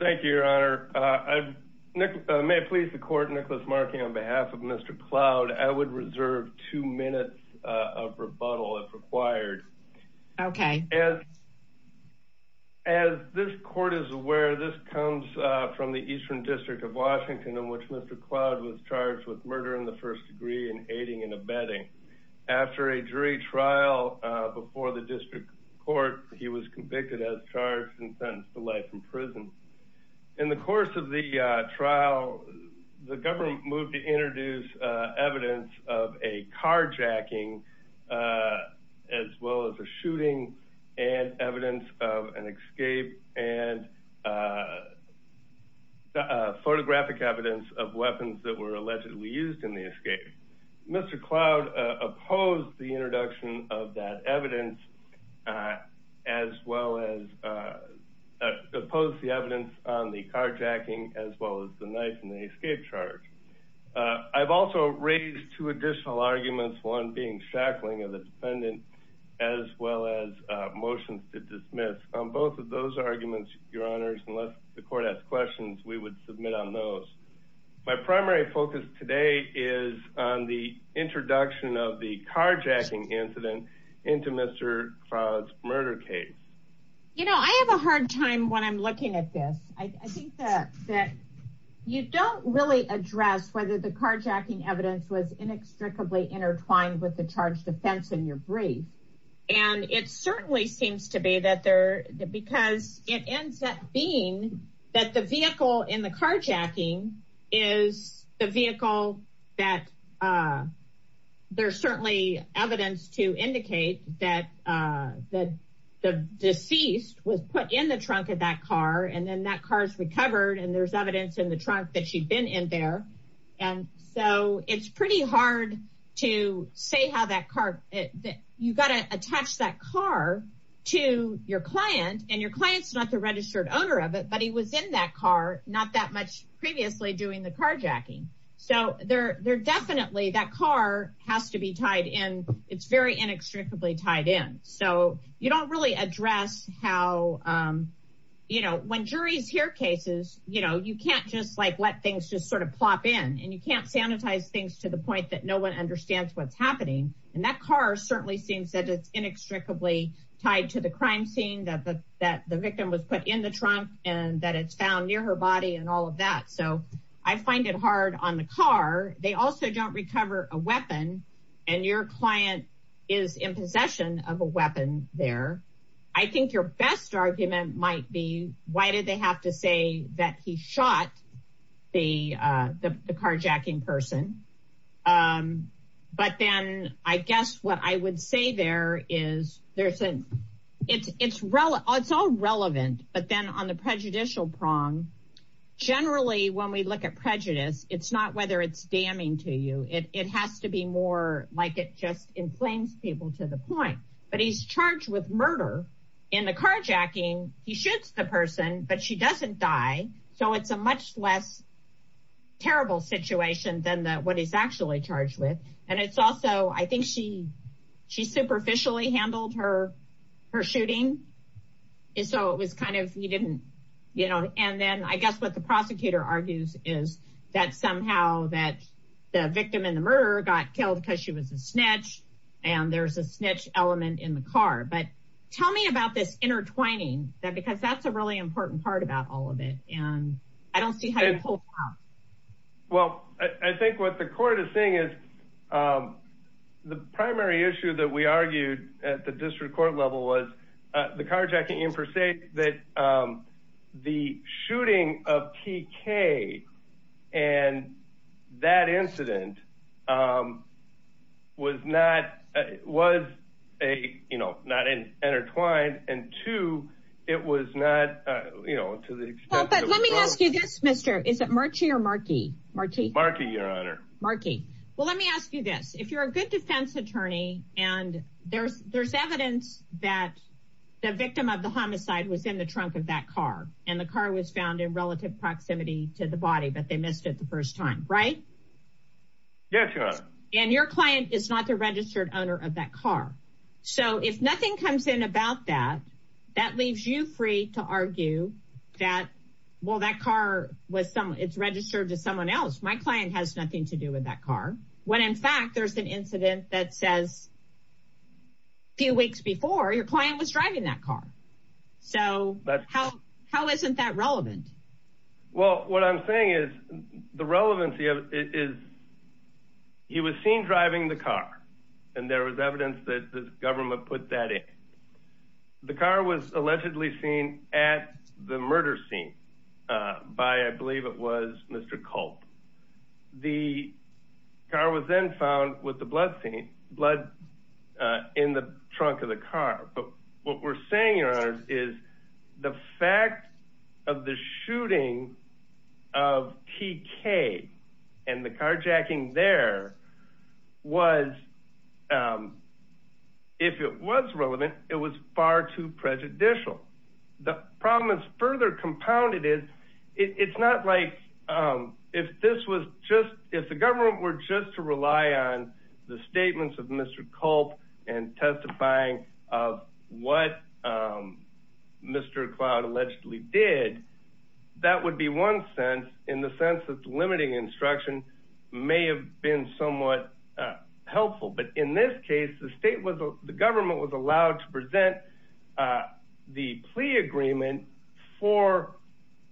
Thank you, Your Honor. May it please the Court, Nicholas Markey, on behalf of Mr. Cloud, I would reserve two minutes of rebuttal if required. As this Court is aware, this comes from the Eastern District of Washington in which Mr. Cloud was charged with murder in the first degree and aiding and abetting. After a jury trial before the District Court, he was convicted as In the course of the trial, the government moved to introduce evidence of a carjacking as well as a shooting and evidence of an escape and photographic evidence of weapons that were allegedly used in the escape. Mr. Cloud opposed the introduction of that evidence as well as opposed the evidence on the carjacking as well as the knife and the escape charge. I've also raised two additional arguments, one being shackling of the defendant as well as motions to dismiss. On both of those arguments, Your Honors, unless the Court has questions, we would submit on those. My primary focus today is on the introduction of the carjacking incident into Mr. Cloud's murder case. You know, I have a hard time when I'm looking at this. I think that you don't really address whether the carjacking evidence was inextricably intertwined with the charge defense in your brief. And it certainly seems to be that there, because it ends up being that the vehicle in the carjacking is the vehicle that there's certainly evidence to indicate that the deceased was put in the trunk of that car and then that car is recovered and there's evidence in the trunk that she'd been in there. And so it's pretty hard to say how that car, you've got to attach that car to your client and your client's not the registered owner of it, but he was in that car, not that much previously doing the carjacking. So there definitely, that car has to be tied in. It's very inextricably tied in. So you don't really address how, you know, when juries hear cases, you know, you can't just like let things just sort of plop in and you can't sanitize things to the point that no one understands what's happening. And that car certainly seems that it's inextricably tied to the crime scene that the victim was put in the trunk and that it's found near her body and all of that. So I find it hard on the car. They also don't recover a weapon and your client is in possession of a weapon there. I think your best argument might be, why did they have to say that he shot the carjacking person? But then I guess what I would say there is, it's all relevant, but then on the prejudicial prong, generally when we look at prejudice, it's not whether it's damning to you. It has to be more like it just inflames people to the point. But he's charged with murder in the carjacking. He shoots the person, but she doesn't die. So it's a much less terrible situation than what he's charged with. And it's also, I think she superficially handled her shooting. Then I guess what the prosecutor argues is that somehow the victim and the murderer got killed because she was a snitch and there's a snitch element in the car. But tell me about this intertwining because that's a really important part about all of it. I don't see how you pull out. Well, I think what the court is saying is the primary issue that we argued at the district court level was the carjacking in per se, that the shooting of T.K. and that incident was not a, you know, not an intertwined and two, it was not, you know, to the extent. Well, but let me ask you this, Mr. Is it Markey or Markey? Markey, Your Honor. Markey. Well, let me ask you this. If you're a good defense attorney and there's evidence that the victim of the homicide was in the trunk of that car and the car was found in relative proximity to the body, but they missed it the first time, right? Yes, Your Honor. And your client is not the registered owner of that car. So if nothing comes in about that, that leaves you free to argue that, well, that car was some, it's registered to someone else. My client has nothing to do with that car. When in fact, there's an incident that says few weeks before your client was driving that car. So how, how isn't that relevant? Well, what I'm saying is the relevancy of it is he was seen driving the car and there was evidence that the government put that in. The car was allegedly seen at the murder scene by, I believe it was Mr. Culp. The car was then found with the blood scene, blood in the trunk of the car. But what we're saying, Your Honor, is the fact of the shooting of TK and the carjacking there was, if it was relevant, it was far too prejudicial. The problem is further compounded is it's not like, if this was just, if the government were just to rely on the statements of Mr. Culp and testifying of what Mr. Cloud allegedly did, that would be one sense in the sense that limiting instruction may have been somewhat helpful. But in this case, the state was, the government was allowed to present the plea agreement for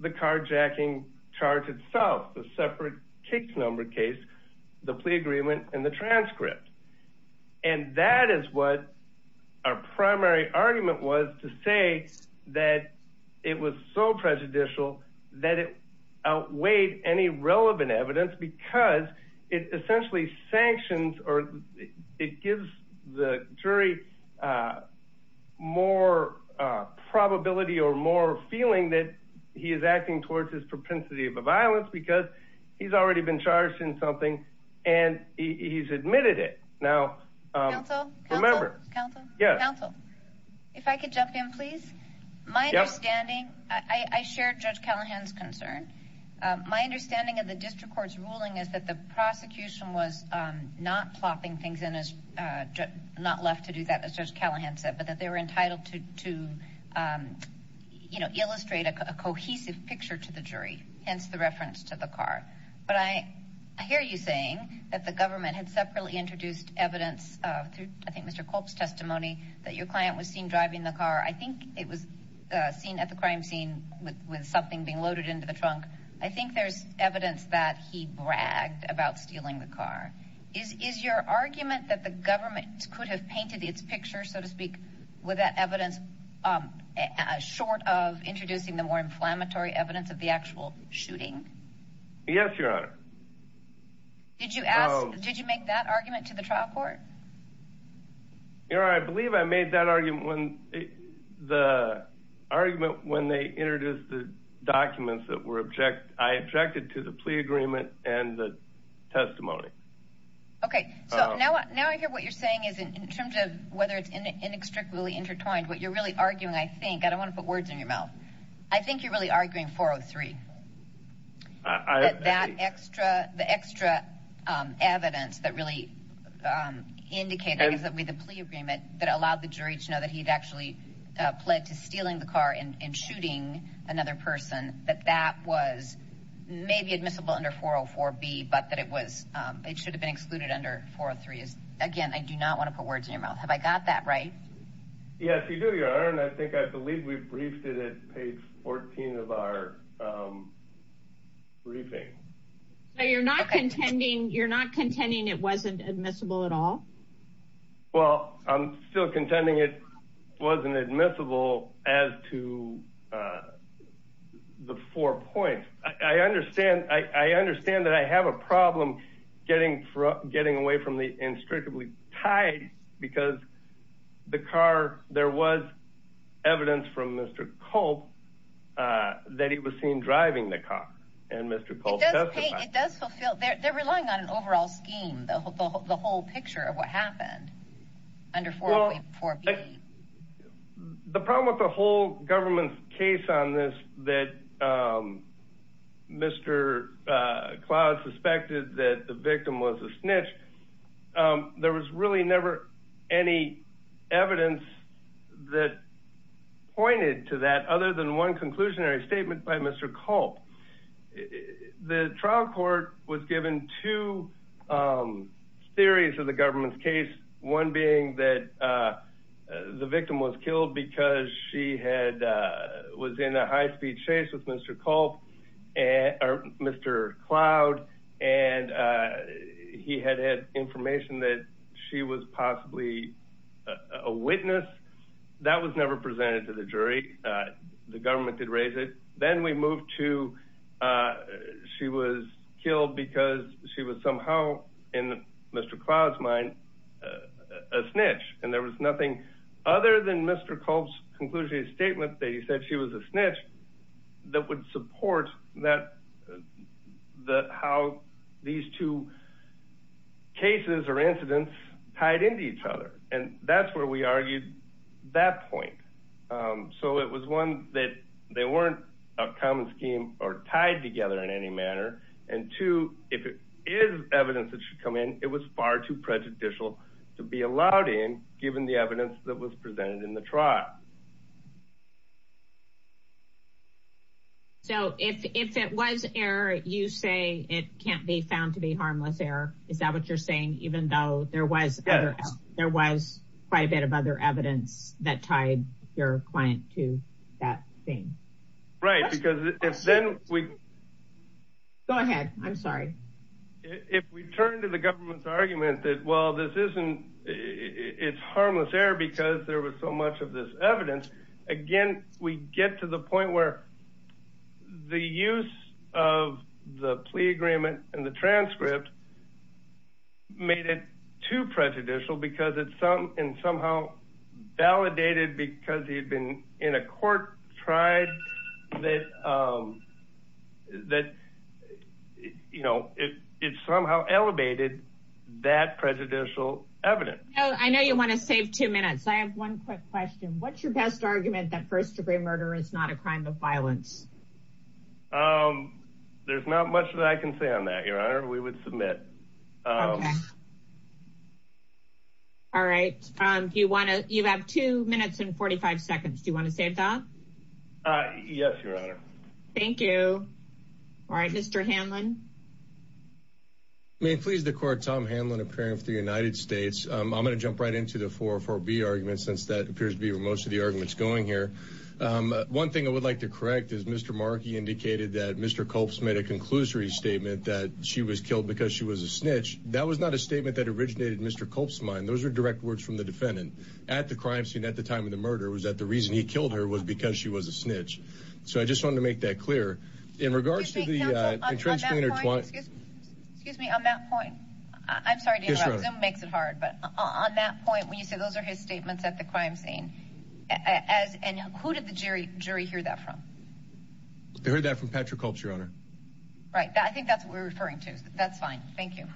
the carjacking charge itself, the separate case, the plea agreement, and the transcript. And that is what our primary argument was to say that it was so prejudicial that it outweighed any relevant evidence because it essentially sanctions or it gives the jury more probability or more feeling that he is acting towards his propensity of a violence because he's already been charged in something and he's admitted it. Now, remember, if I could jump in, please. My understanding, I share Judge Callahan's concern. My understanding of the district court's ruling is that the prosecution was not plopping things in, not left to do that, as Judge Callahan said, but that they were entitled to illustrate a cohesive picture to the jury, hence the reference to the car. But I hear you saying that the government had separately introduced evidence through, I think, Mr. Culp's testimony that your client was seen driving the car. I think it was seen at the crime scene with something being loaded into the trunk. I think there's evidence that he bragged about stealing the car. Is your argument that the government could have painted its picture, so to speak, with that evidence short of introducing the more inflammatory evidence of the actual shooting? Yes, Your Honor. Did you ask, did you make that argument to the trial court? Your Honor, I believe I made that argument when the argument when they introduced the documents that were object, I objected to the plea agreement and the testimony. Okay, so now I hear what you're saying is in terms of whether it's inextricably intertwined, what you're really arguing, I think, I don't want to put words in your mouth, I think you're really arguing 403. That extra, the extra evidence that really indicated that with the plea agreement that allowed the jury to know that he'd actually pled to stealing the car and shooting another person, that that was maybe admissible under 404B, but that it was, it should have been excluded under 403. Again, I do not want to put words in your mouth. Have I got that right? Yes, you do, Your Honor, and I think I believe we briefed it at page 14 of our briefing. So you're not contending, you're not contending it wasn't admissible at all? Well, I'm still contending it wasn't admissible as to the four points. I understand that I have a problem getting away from the inextricably tied because the car, there was evidence from Mr. Culp that he was seen driving the car and Mr. Culp testified. It does fulfill, they're relying on an overall scheme, the whole that Mr. Culp suspected that the victim was a snitch. There was really never any evidence that pointed to that other than one conclusionary statement by Mr. Culp. The trial court was given two theories of the government's case. One being that the victim was killed because she was in a high-speed chase with Mr. Culp, Mr. Cloud, and he had had information that she was possibly a witness. That was never presented to the jury. The government did raise it. Then we moved to she was killed because she was somehow, in Mr. Cloud's mind, a snitch. There was nothing other than Mr. Culp's conclusionary statement that he said she was a snitch that would support how these two cases or incidents tied into each other. That's where we argued that point. It was one that they weren't a common scheme or tied together in any manner, and two, if it is evidence that should come in, it was far too prejudicial to be allowed in given the evidence that was presented in the trial. If it was error, you say it can't be found to be harmless error. Is that what you're saying, even though there was quite a bit of other evidence that tied your client to that thing? Right. If we turn to the government's argument that it's harmless error because there was so much of this evidence, again, we get to the point where the use of the plea agreement and the transcript made it too prejudicial because it's somehow validated because he'd been in a court, tried, that it somehow elevated that prejudicial evidence. I know you want to save two minutes. I have one quick question. What's your best argument that first degree murder is not a crime of violence? There's not much that I can say on that, Your Honor. We would submit. Okay. All right. You have two minutes and 45 seconds. Do you want to save that? Yes, Your Honor. Thank you. All right, Mr. Hanlon. May it please the court, Tom Hanlon, a parent of the United States. I'm going to jump right into the 404B argument since that appears to be where most of the argument's going here. One thing I would like to correct is Mr. Markey indicated that Mr. Culp's made a snitch. That was not a statement that originated in Mr. Culp's mind. Those are direct words from the defendant at the crime scene at the time of the murder was that the reason he killed her was because she was a snitch. So I just wanted to make that clear in regards to the- Excuse me, on that point, I'm sorry to interrupt. Zoom makes it hard, but on that point, when you say those are his statements at the crime scene, and who did the jury hear that from? They heard that from Patrick Culp, Your Honor. Right. I think that's what we're referring to. That's fine. Thank you.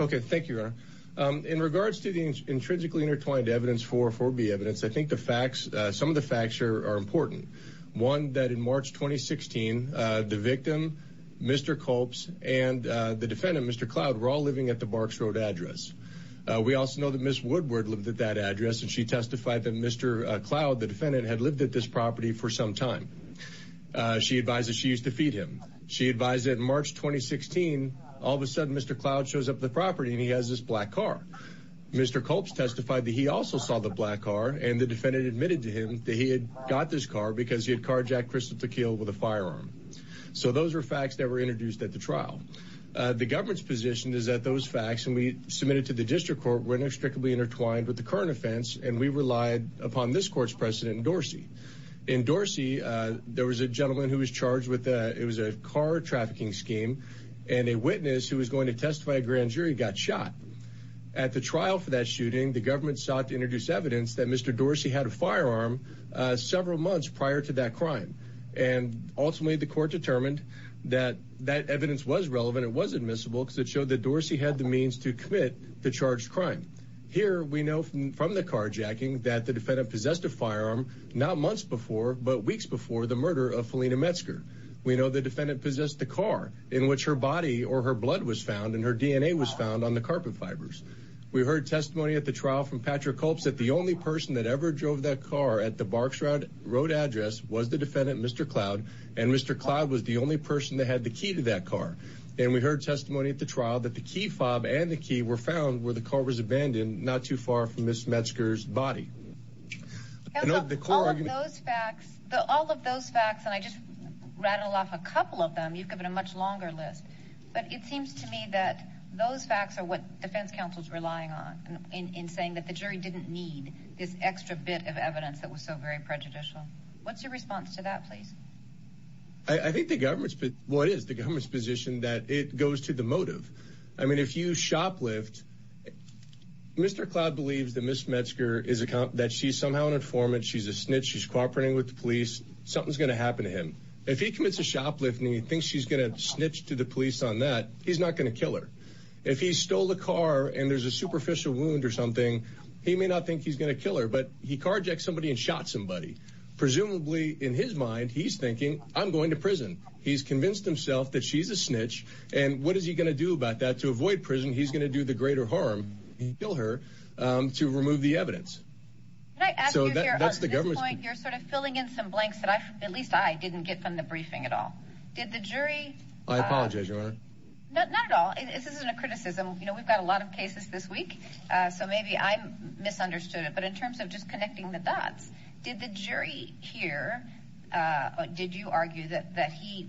Okay, thank you, Your Honor. In regards to the intrinsically intertwined evidence, 404B evidence, I think the facts, some of the facts are important. One, that in March 2016, the victim, Mr. Culp's, and the defendant, Mr. Cloud, were all living at the Barks Road address. We also know that Ms. Woodward lived at that address, and she testified that Mr. Cloud, the defendant, had lived at this property for some time. She advises she used to feed him. She advised that in March 2016, all of a sudden, Mr. Cloud shows up at the property, and he has this black car. Mr. Culp's testified that he also saw the black car, and the defendant admitted to him that he had got this car because he had carjacked Crystal Tequila with a firearm. So those are facts that were introduced at the trial. The government's position is that those facts, and we submitted to the district court, were inextricably intertwined with the current offense, and we relied upon this court's precedent in Dorsey. In Dorsey, there was a gentleman who was charged with, it was a car trafficking scheme, and a witness who was going to testify a grand jury got shot. At the trial for that shooting, the government sought to introduce evidence that Mr. Dorsey had a firearm several months prior to that crime, and ultimately, the court determined that that evidence was relevant. It was admissible because it showed that Dorsey had the means to commit the charged crime. Here, we know from the carjacking that the defendant possessed a firearm not months before, but weeks before the murder of Felina Metzger. We know the defendant possessed the car in which her body or her blood was found, and her DNA was found on the carpet fibers. We heard testimony at the trial from Patrick Culp that the only person that ever drove that car at the Barksrod Road address was the defendant, Mr. Cloud, and Mr. Cloud was the only person that had the key to that car, and we heard testimony at the trial that the key fob and the key were found where the car was abandoned not too far from Miss Metzger's body. All of those facts, and I just rattled off a couple of them. You've given a much longer list, but it seems to me that those facts are what defense counsel's relying on in saying that the jury didn't need this extra bit of evidence that was so very prejudicial. What's your response to that, please? I think the government's position that it goes to the motive. I mean, if you shoplift, Mr. Cloud believes that Miss Metzger, that she's somehow an informant, she's a snitch, she's cooperating with the police, something's going to happen to him. If he commits a shoplift and he thinks she's going to snitch to the police on that, he's not going to kill her. If he stole the car and there's a superficial wound or something, he may not think he's going to kill her, but he carjacked somebody and shot somebody. Presumably, in his mind, he's thinking, I'm going to prison. He's convinced himself that she's a snitch. To avoid prison, he's going to do the greater harm, kill her, to remove the evidence. At this point, you're sort of filling in some blanks that at least I didn't get from the briefing at all. Did the jury... I apologize, Your Honor. Not at all. This isn't a criticism. We've got a lot of cases this week, so maybe I misunderstood it, but in terms of just connecting the dots, did the jury here, did you argue that he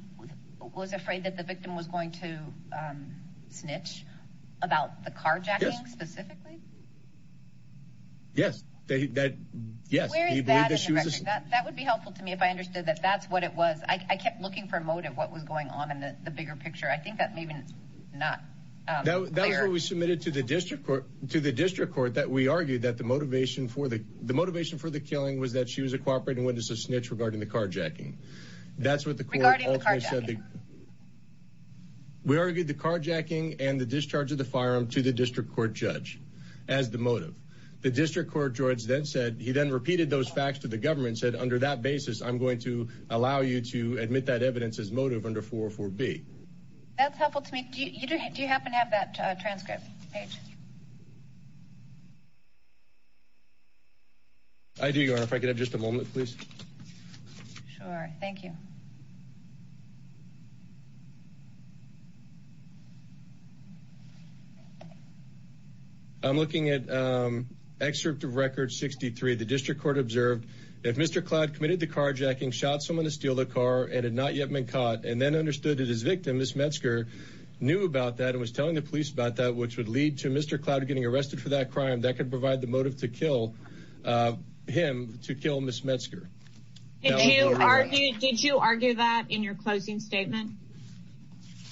was afraid that the victim was going to snitch about the carjacking specifically? Yes. He believed that she was a snitch. That would be helpful to me if I understood that that's what it was. I kept looking for a motive, what was going on in the bigger picture. I think that maybe it's not clear. That's what we submitted to the district court that we argued that the motivation for the killing was that she was a cooperative witness of snitch regarding the carjacking. That's what the court ultimately said. Regarding the carjacking. We argued the carjacking and the discharge of the firearm to the district court judge as the motive. The district court judge then said, he then repeated those facts to the government and said, under that basis, I'm going to allow you to admit that evidence as motive under 404B. That's helpful to me. Do you happen to have that transcript, Paige? I do, Your Honor. If I could have just a moment, please. Sure. Thank you. I'm looking at excerpt of record 63. The district court observed that Mr. Cloud committed the carjacking, shot someone to steal the car, and had not yet been caught, and then understood that his victim, Ms. Metzger, knew about that and was telling the police about that, which would lead to Mr. Cloud getting arrested for that crime. That could provide the motive to kill him, to kill Ms. Metzger. Thank you, Your Honor. Did you argue that in your closing statement?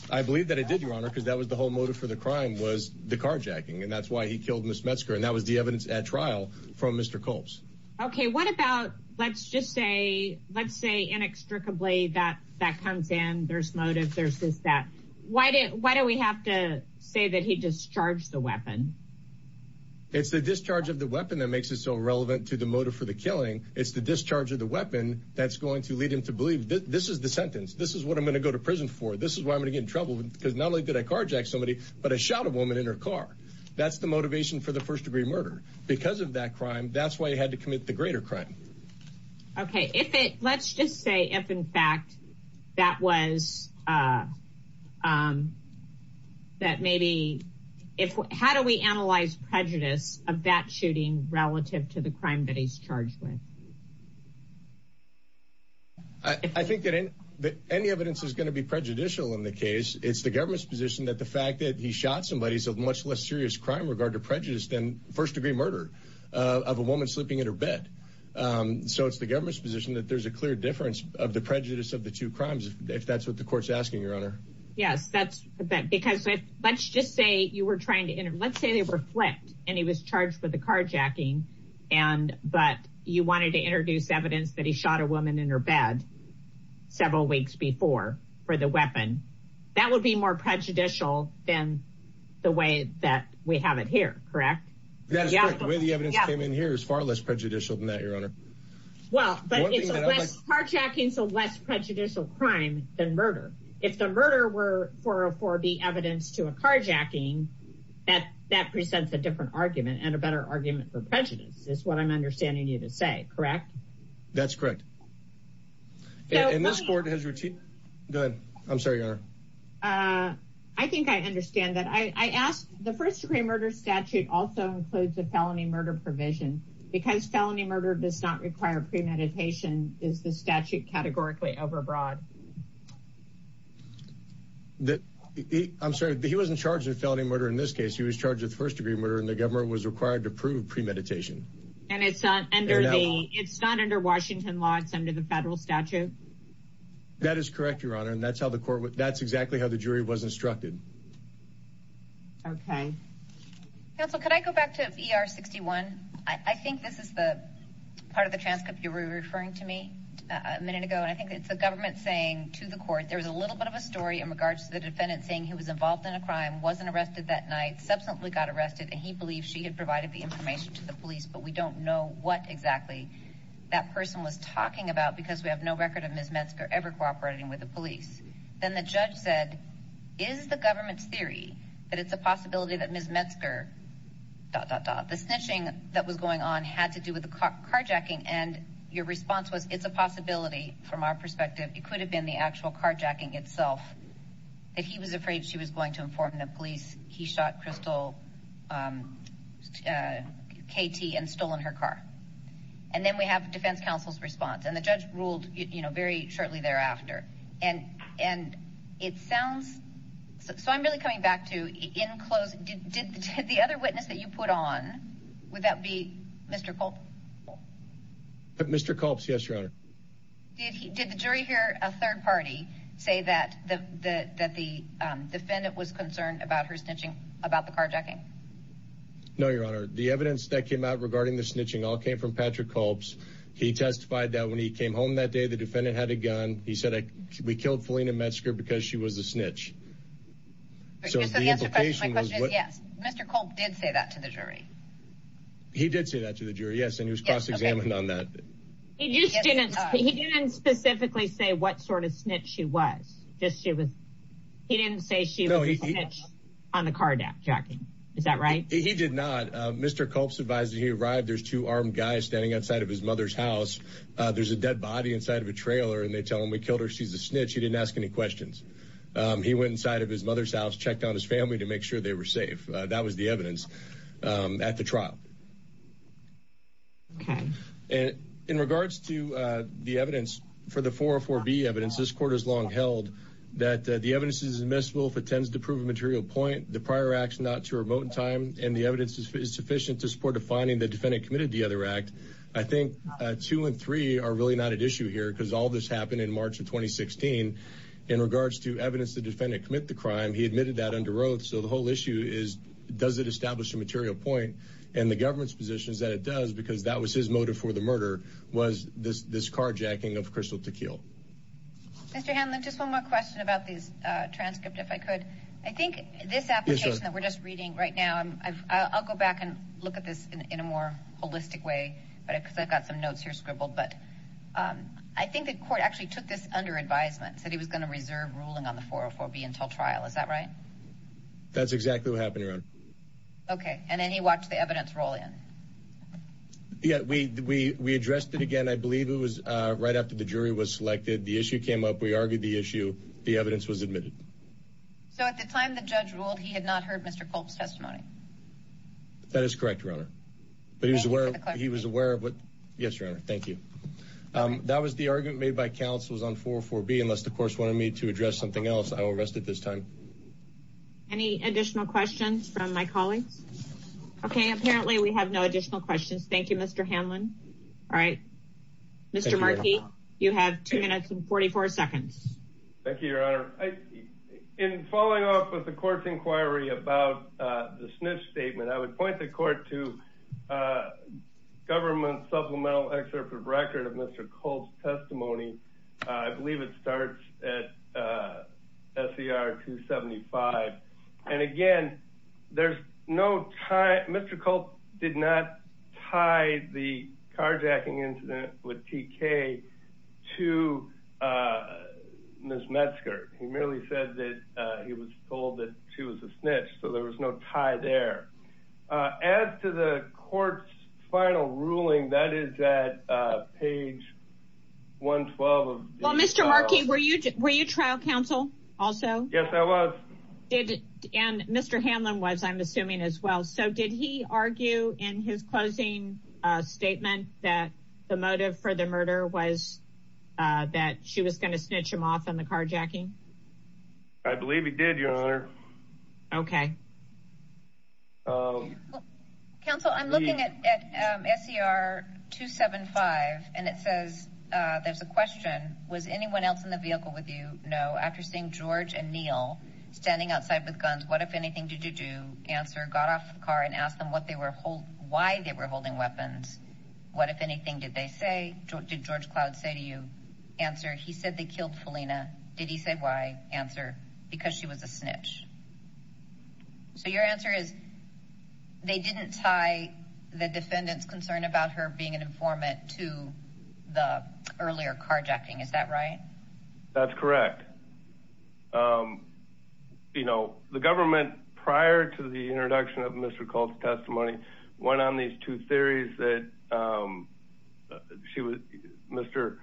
I believe that I did, Your Honor, because that was the whole motive for the crime was the carjacking, and that's why he killed Ms. Metzger, and that was the evidence at trial from Mr. Culp's. Okay. What about, let's just say, let's say, inextricably, that comes in, there's motive, there's this, that. Why do we have to say that he discharged the weapon? It's the discharge of the weapon that makes it so relevant to the motive for the killing. It's the discharge of the weapon that's going to lead him to believe, this is the sentence, this is what I'm going to go to prison for, this is why I'm going to get in trouble, because not only did I carjack somebody, but I shot a woman in her car. That's the motivation for the first-degree murder. Because of that crime, that's why he had to commit the greater crime. Okay. If it, let's just say, if, in fact, that was, that maybe, if, how do we analyze prejudice of that shooting relative to the crime that he's charged with? I think that any evidence is going to be prejudicial in the case. It's the government's position that the fact that he shot somebody is a much less serious crime regard to prejudice than first-degree murder of a woman sleeping in her bed. So it's the government's position that there's a clear difference of the prejudice of the two crimes, if that's what the court's asking, Your Honor. Yes, that's, because let's just say you were trying to, let's say they were flipped and he was charged with the carjacking, and, but you wanted to introduce evidence that he shot a woman in her bed several weeks before for the weapon. That would be more prejudicial than the way that we have it here, correct? That's correct. The way the evidence came in here is far less prejudicial than that, Your Honor. Well, but it's less, carjacking's a less prejudicial crime than the murder. If the murder were for the evidence to a carjacking, that presents a different argument and a better argument for prejudice, is what I'm understanding you to say, correct? That's correct. And this court has... Go ahead. I'm sorry, Your Honor. I think I understand that. I asked, the first-degree murder statute also includes a felony murder provision. Because felony murder does not require premeditation, is the statute categorically overbroad? I'm sorry, he wasn't charged with felony murder in this case. He was charged with first-degree murder and the government was required to prove premeditation. And it's not under the, it's not under Washington law, it's under the federal statute? That is correct, Your Honor. And that's how the court, that's exactly how the jury was instructed. Okay. Counsel, could I go back to ER 61? I think this is the part of the transcript you were referring to me a minute ago. And I think it's the government saying to the court, there was a little bit of a story in regards to the defendant saying he was involved in a crime, wasn't arrested that night, subsequently got arrested, and he believed she had provided the information to the police, but we don't know what exactly that person was talking about because we have no record of Ms. Metzger. The snitching that was going on had to do with the carjacking and your response was, it's a possibility from our perspective, it could have been the actual carjacking itself. If he was afraid she was going to inform the police, he shot Crystal KT and stolen her car. And then we have defense counsel's response and the judge ruled, very shortly thereafter. And it sounds, so I'm really coming back to in closing, did the other witness that you put on, would that be Mr. Culp? Mr. Culp, yes, Your Honor. Did the jury hear a third party say that the defendant was concerned about her snitching, about the carjacking? No, Your Honor. The evidence that came out regarding the snitching all came from Patrick Culp's. He testified that when he came home that day, the defendant had a gun. He said, we killed Felina Metzger because she was a snitch. So the implication was- Yes, Mr. Culp did say that to the jury. He did say that to the jury, yes, and he was cross-examined on that. He didn't specifically say what sort of snitch she was, just she was, he didn't say she was a snitch on the carjacking, is that right? He did not. Mr. Culp's advisor, he arrived, there's two armed guys standing outside of his mother's house. There's a dead body inside of a trailer and they tell him, we killed her, she's a snitch. He didn't ask any questions. He went inside of his mother's house, checked on his family to make sure they were safe. That was the evidence at the trial. And in regards to the evidence for the 404B evidence, this court has long held that the evidence is admissible if it tends to prove a material point, the prior action not remote in time, and the evidence is sufficient to support a finding the defendant committed the other act. I think two and three are really not at issue here because all this happened in March of 2016. In regards to evidence the defendant commit the crime, he admitted that under oath. So the whole issue is, does it establish a material point? And the government's position is that it does because that was his motive for the murder, was this carjacking of Crystal Tequil. Mr. Hanlon, just one more question about this transcript, if I could. I think this application that we're just reading right now, I'll go back and look at this in a more holistic way because I've got some notes here scribbled, but I think the court actually took this under advisement, said he was going to reserve ruling on the 404B until trial, is that right? That's exactly what happened, Your Honor. Okay, and then he watched the evidence roll in. Yeah, we addressed it again, I believe it was right after the jury was selected, the issue came up, we argued the issue, the evidence was admitted. So at the time the judge ruled, he had not heard Mr. Culp's testimony? That is correct, Your Honor, but he was aware of what, yes, Your Honor, thank you. That was the argument made by counsels on 404B, unless the court wanted me to address something else, I won't rest it this time. Any additional questions from my colleagues? Okay, apparently we have no additional questions. Thank you, Mr. Hanlon. All right, Mr. Markey, you have two minutes and 44 seconds. Thank you, Your Honor. In following up with the court's inquiry about the snitch statement, I would point the court to government supplemental excerpt of record of Mr. Culp's testimony. I believe it starts at SER 275. And again, there's no tie, Mr. Culp did not tie the carjacking incident with TK to Ms. Metzger. He merely said that he was told that she was a snitch, so there was no tie there. As to the court's final ruling, that is at page 112 of- Well, Mr. Markey, were you trial counsel also? Yes, I was. And Mr. Hanlon was, I'm assuming as well. So did he argue in his closing statement that the motive for the murder was that she was going to snitch him off on the carjacking? I believe he did, Your Honor. Okay. Counsel, I'm looking at SER 275 and it says there's a question, was anyone else in the vehicle with you? No. After seeing George and Neil standing outside with guns, what, if anything, did you do? Answer. Got off the car and asked them what they were- why they were holding weapons. What, if anything, did they say? Did George Cloud say to you? Answer. He said they killed Felina. Did he say why? Answer. Because she was a snitch. So your answer is they didn't tie the defendant's concern about her being an informant to the earlier carjacking. Is that right? That's correct. You know, the government, prior to the introduction of Mr. Culp's testimony, went on these two theories that she was- Mr.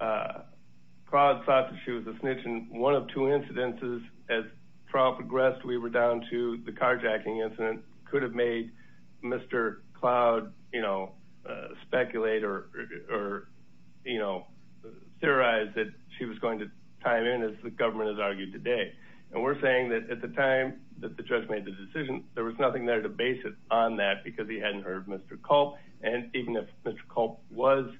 Cloud thought that she was a snitch. And one of two incidences, as trial progressed, we were down to the carjacking incident, could have made Mr. Cloud, you know, speculate or, you know, theorize that she was going to tie him in, as the government has argued today. And we're saying that at the time that the judge made the decision, there was nothing there to base it on that because he hadn't heard Mr. Culp. And even if Mr. Culp was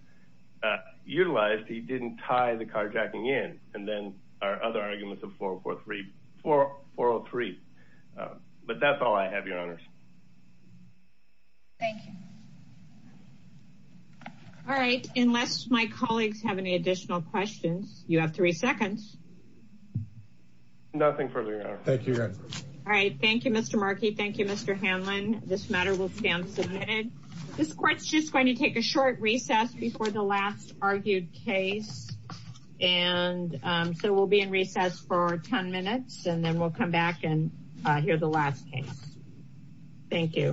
utilized, he didn't tie the carjacking in. And then our other arguments of 403. But that's all I have, Your Honors. Thank you. All right. Unless my colleagues have any additional questions, you have three seconds. Nothing further, Your Honor. Thank you, Your Honor. All right. Thank you, Mr. Markey. Thank you, Mr. Hanlon. This matter will stand submitted. This court's just going to take a short recess before the last argued case. And so we'll be in recess for 10 minutes, and then we'll come back and hear the last case. Thank you.